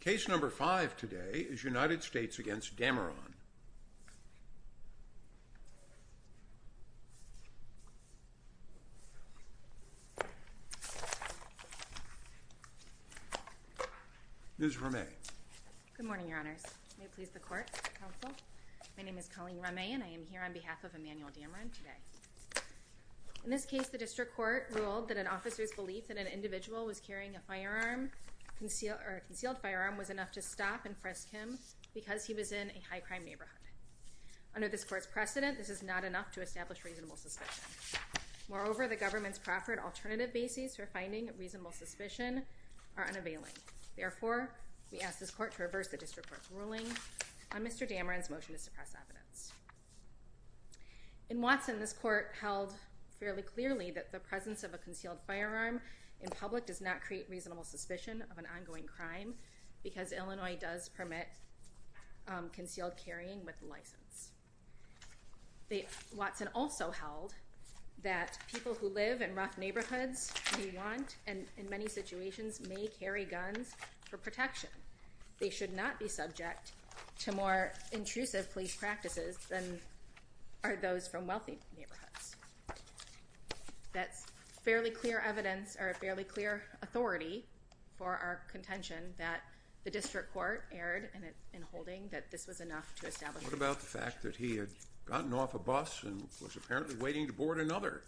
Case number five today is United States v. Dameron. Ms. Rameh. Good morning, Your Honors. May it please the Court, Counsel. My name is Colleen Rameh and I am here on behalf of Emanuel Dameron today. In this case, the District Court ruled that an officer's belief that an individual was carrying a firearm, or a concealed firearm, was enough to stop and frisk him because he was in a high-crime neighborhood. Under this Court's precedent, this is not enough to establish reasonable suspicion. Moreover, the government's proffered alternative bases for finding reasonable suspicion are unavailing. Therefore, we ask this Court to reverse the District Court's ruling on Mr. Dameron's motion to suppress evidence. In Watson, this Court held fairly clearly that the presence of a concealed firearm in public does not create reasonable suspicion of an ongoing crime because Illinois does permit concealed carrying with a license. Watson also held that people who live in rough neighborhoods who want, and in many situations, may carry guns for protection. They should not be subject to more intrusive police practices than are those from wealthy neighborhoods. That's fairly clear evidence or a fairly clear authority for our contention that the District Court erred in holding that this was enough to establish... What about the fact that he had gotten off a bus and was apparently waiting to board another?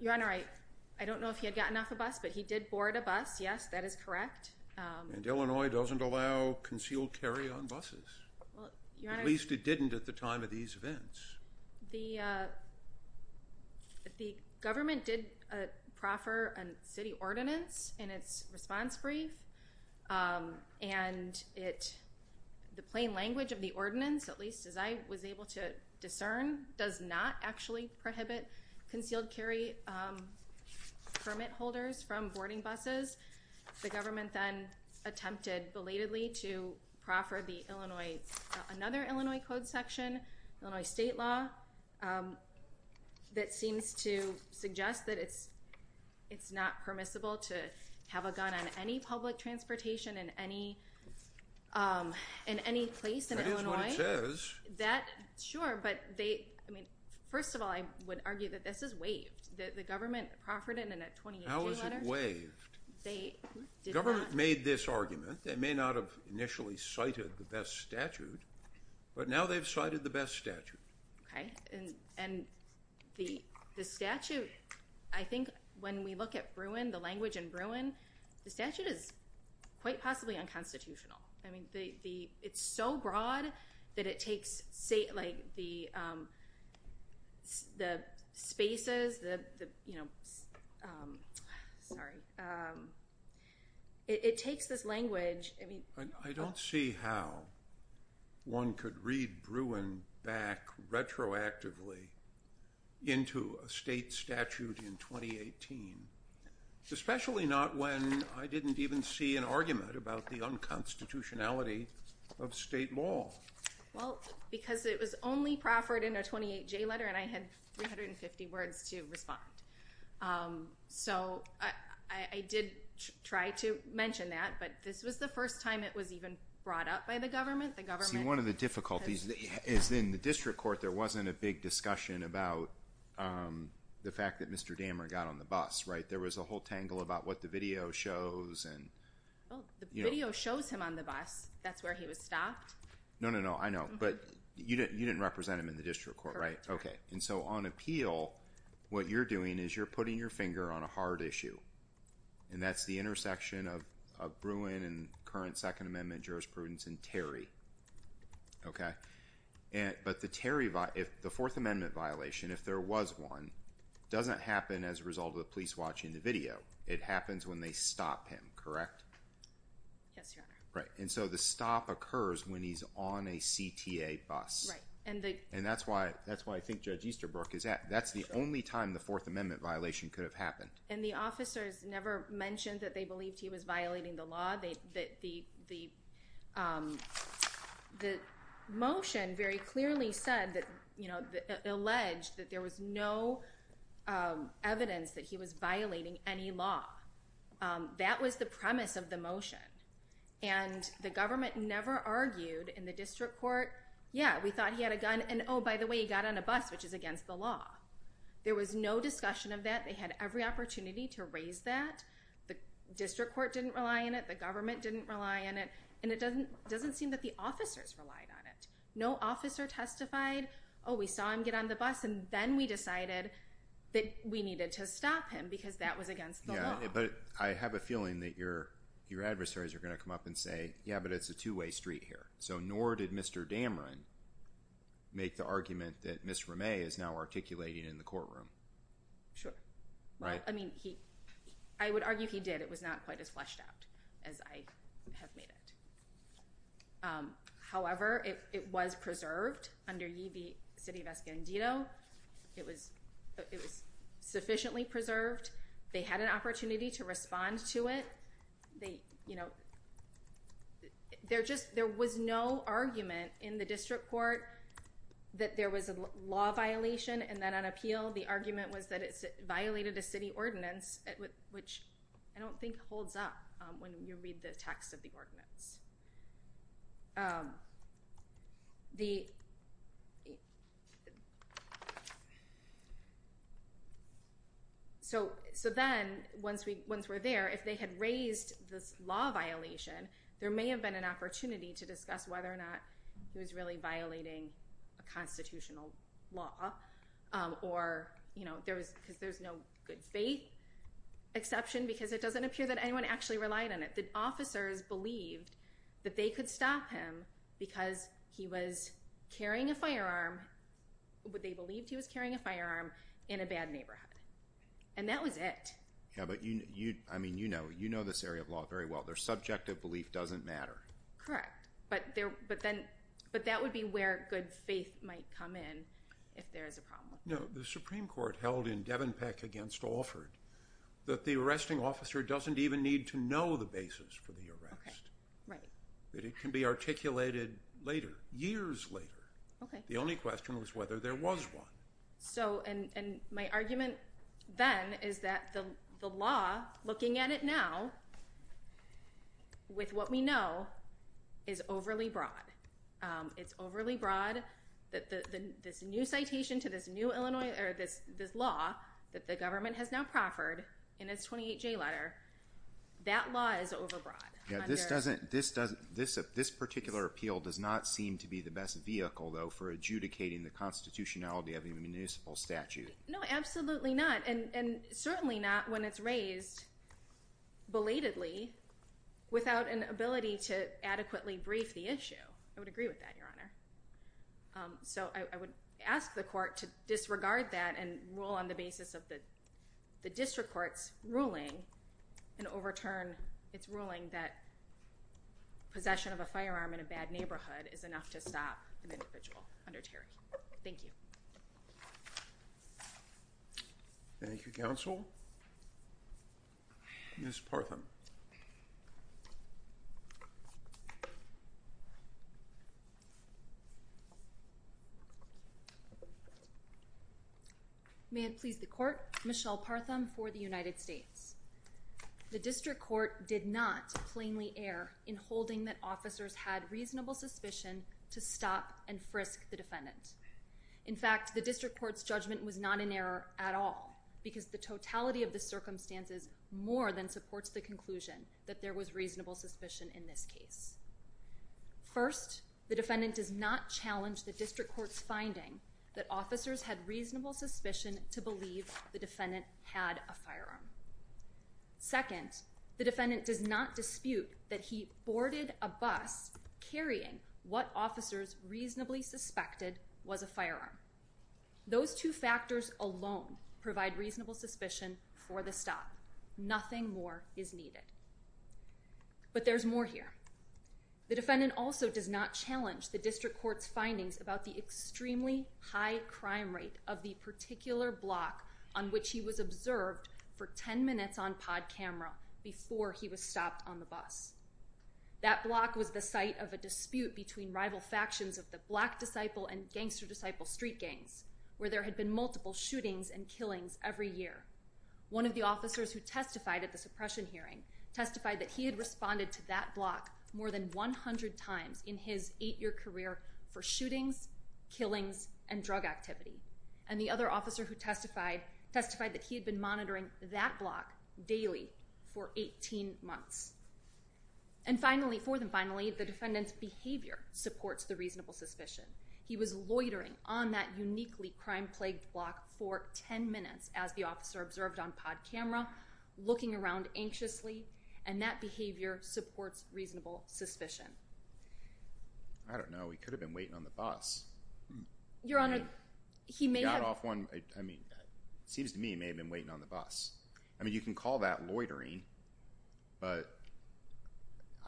Your Honor, I don't know if he had gotten off a bus, but he did board a bus. Yes, that is correct. And Illinois doesn't allow concealed carry on buses. At least it didn't at the time of these events. The government did proffer a city ordinance in its response brief, and the plain language of the ordinance, at least as I was able to discern, does not actually prohibit concealed carry permit holders from boarding buses. The government then attempted belatedly to proffer another Illinois Code section, Illinois state law, that seems to suggest that it's not permissible to have a gun on any public transportation in any place in Illinois. That is what it says. That, sure, but they, I mean, first of all, I would argue that this is waived. The government proffered it in a 2018 letter. How is it waived? They did not... The government made this argument. They may not have initially cited the best statute, but now they've cited the best statute. Okay, and the statute, I think when we look at Bruin, the language in Bruin, the statute is quite possibly unconstitutional. I mean, it's so broad that it takes, like, the spaces, the, you know, sorry. It takes this language. I don't see how one could read Bruin back retroactively into a state statute in 2018, especially not when I didn't even see an argument about the unconstitutionality of state law. Well, because it was only proffered in a 2018 letter, and I had 350 words to respond. So I did try to mention that, but this was the first time it was even brought up by the government. See, one of the difficulties is in the district court, there wasn't a big discussion about the fact that Mr. Dameron got on the bus, right? There was a whole tangle about what the video shows. Well, the video shows him on the bus. That's where he was stopped. No, no, no, I know, but you didn't represent him in the district court, right? Correct. Okay, and so on appeal, what you're doing is you're putting your finger on a hard issue, and that's the intersection of Bruin and current Second Amendment jurisprudence and Terry, okay? But the fourth amendment violation, if there was one, doesn't happen as a result of the police watching the video. It happens when they stop him, correct? Yes, Your Honor. Right, and so the stop occurs when he's on a CTA bus. Right. And that's why I think Judge Easterbrook is at. That's the only time the fourth amendment violation could have happened. And the officers never mentioned that they believed he was violating the law. The motion very clearly said that, you know, alleged that there was no evidence that he was violating any law. That was the premise of the motion, and the government never argued in the district court, yeah, we thought he had a gun, and oh, by the way, he got on a bus, which is against the law. There was no discussion of that. They had every opportunity to raise that. The district court didn't rely on it. The government didn't rely on it. And it doesn't seem that the officers relied on it. No officer testified, oh, we saw him get on the bus, and then we decided that we needed to stop him because that was against the law. Yeah, but I have a feeling that your adversaries are going to come up and say, yeah, but it's a two-way street here. So nor did Mr. Damron make the argument that Ms. Ramay is now articulating in the courtroom. Sure. Right. I mean, I would argue he did. It was not quite as fleshed out as I have made it. However, it was preserved under Ye Be City of Escondido. It was sufficiently preserved. They had an opportunity to respond to it. There was no argument in the district court that there was a law violation. And then on appeal, the argument was that it violated a city ordinance, which I don't think holds up when you read the text of the ordinance. So then, once we're there, if they had raised this law violation, there may have been an opportunity to discuss whether or not he was really violating a constitutional law. Or, you know, because there's no good faith exception, because it doesn't appear that anyone actually relied on it. The officers believed that they could stop him because he was carrying a firearm. They believed he was carrying a firearm in a bad neighborhood. And that was it. Yeah, but, I mean, you know this area of law very well. Their subjective belief doesn't matter. Correct. But that would be where good faith might come in if there is a problem. No, the Supreme Court held in Devenpeck against Alford that the arresting officer doesn't even need to know the basis for the arrest. Right. That it can be articulated later, years later. Okay. The only question was whether there was one. So, and my argument then is that the law, looking at it now, with what we know, is overly broad. It's overly broad. This new citation to this new Illinois, or this law that the government has now proffered in its 28J letter, that law is overbroad. Yeah, this particular appeal does not seem to be the best vehicle, though, for adjudicating the constitutionality of a municipal statute. No, absolutely not. And certainly not when it's raised belatedly without an ability to adequately brief the issue. I would agree with that, Your Honor. So I would ask the court to disregard that and rule on the basis of the district court's ruling and overturn its ruling that possession of a firearm in a bad neighborhood is enough to stop an individual under Terry. Thank you. Thank you, counsel. Ms. Partham. May it please the court, Michelle Partham for the United States. The district court did not plainly err in holding that officers had reasonable suspicion to stop and frisk the defendant. In fact, the district court's judgment was not in error at all because the totality of the circumstances more than supports the conclusion that there was reasonable suspicion in this case. First, the defendant does not challenge the district court's finding that officers had reasonable suspicion to believe the defendant had a firearm. Second, the defendant does not dispute that he boarded a bus carrying what officers reasonably suspected was a firearm. Those two factors alone provide reasonable suspicion for the stop. Nothing more is needed. But there's more here. The defendant also does not challenge the district court's findings about the extremely high crime rate of the particular block on which he was observed for 10 minutes on pod camera before he was stopped on the bus. That block was the site of a dispute between rival factions of the Black Disciple and Gangster Disciple street gangs where there had been multiple shootings and killings every year. One of the officers who testified at the suppression hearing testified that he had responded to that block more than 100 times in his 8-year career for shootings, killings, and drug activity. And the other officer who testified testified that he had been monitoring that block daily for 18 months. And finally, fourth and finally, the defendant's behavior supports the reasonable suspicion. He was loitering on that uniquely crime-plagued block for 10 minutes as the officer observed on pod camera, looking around anxiously, and that behavior supports reasonable suspicion. I don't know. He could have been waiting on the bus. Your Honor, he may have— Got off one—I mean, it seems to me he may have been waiting on the bus. I mean, you can call that loitering. But,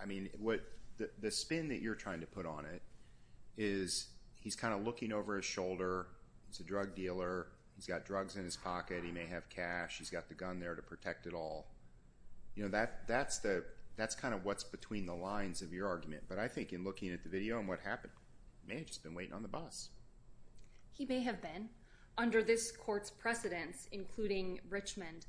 I mean, the spin that you're trying to put on it is he's kind of looking over his shoulder. He's a drug dealer. He's got drugs in his pocket. He may have cash. He's got the gun there to protect it all. You know, that's kind of what's between the lines of your argument. But I think in looking at the video and what happened, he may have just been waiting on the bus. He may have been. Under this court's precedence, including Richmond,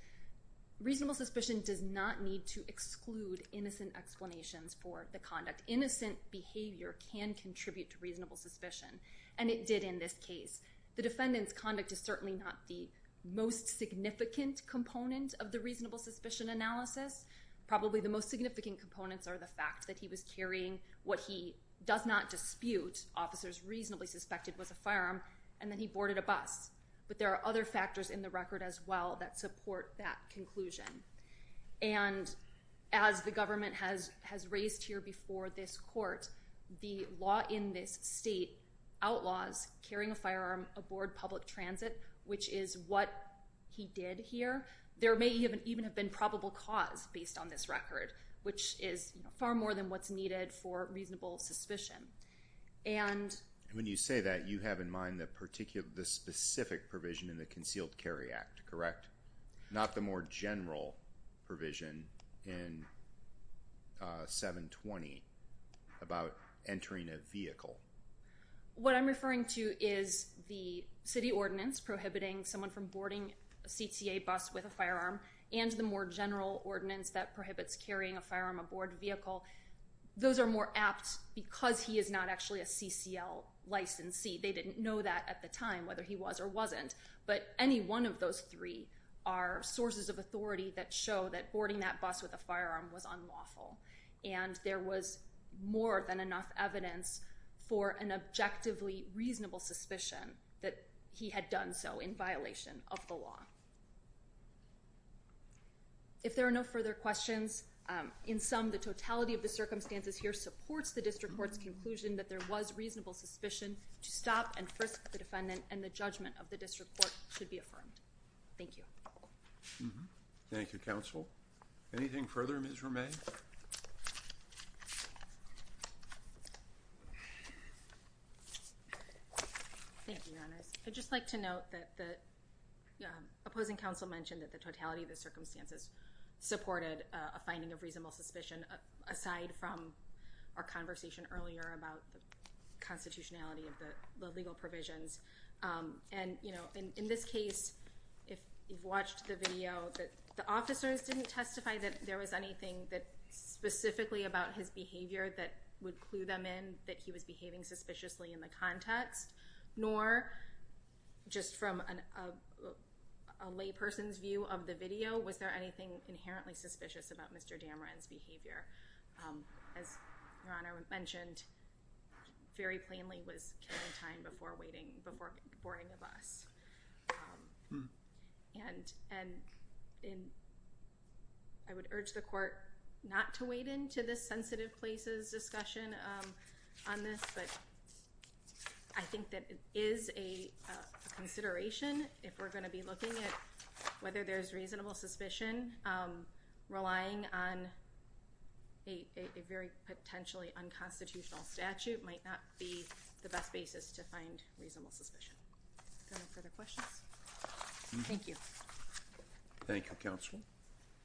reasonable suspicion does not need to exclude innocent explanations for the conduct. Innocent behavior can contribute to reasonable suspicion, and it did in this case. The defendant's conduct is certainly not the most significant component of the reasonable suspicion analysis. Probably the most significant components are the fact that he was carrying what he does not dispute officers reasonably suspected was a firearm, and then he boarded a bus. But there are other factors in the record as well that support that conclusion. And as the government has raised here before this court, the law in this state outlaws carrying a firearm aboard public transit, which is what he did here. There may even have been probable cause based on this record, which is far more than what's needed for reasonable suspicion. And when you say that, you have in mind the specific provision in the Concealed Carry Act, correct? Not the more general provision in 720 about entering a vehicle. What I'm referring to is the city ordinance prohibiting someone from boarding a CTA bus with a firearm, and the more general ordinance that prohibits carrying a firearm aboard a vehicle. Those are more apt because he is not actually a CCL licensee. They didn't know that at the time, whether he was or wasn't. But any one of those three are sources of authority that show that boarding that bus with a firearm was unlawful. And there was more than enough evidence for an objectively reasonable suspicion that he had done so in violation of the law. If there are no further questions, in sum, the totality of the circumstances here supports the District Court's conclusion that there was reasonable suspicion to stop and frisk the defendant, and the judgment of the District Court should be affirmed. Thank you. Thank you, Counsel. Anything further, Ms. Romay? Thank you, Your Honors. I'd just like to note that the opposing counsel mentioned that the totality of the circumstances supported a finding of reasonable suspicion, aside from our conversation earlier about the constitutionality of the legal provisions. And in this case, if you've watched the video, the officers didn't testify that there was anything specifically about his behavior that would clue them in that he was behaving suspiciously in the context, nor, just from a layperson's view of the video, was there anything inherently suspicious about Mr. Dameron's behavior. As Your Honor mentioned, very plainly was killing time before boarding the bus. I would urge the Court not to wade into this sensitive places discussion on this, but I think that it is a consideration, if we're going to be looking at whether there's reasonable suspicion, relying on a very potentially unconstitutional statute might not be the best basis to find reasonable suspicion. Are there no further questions? Thank you. Thank you, Counsel.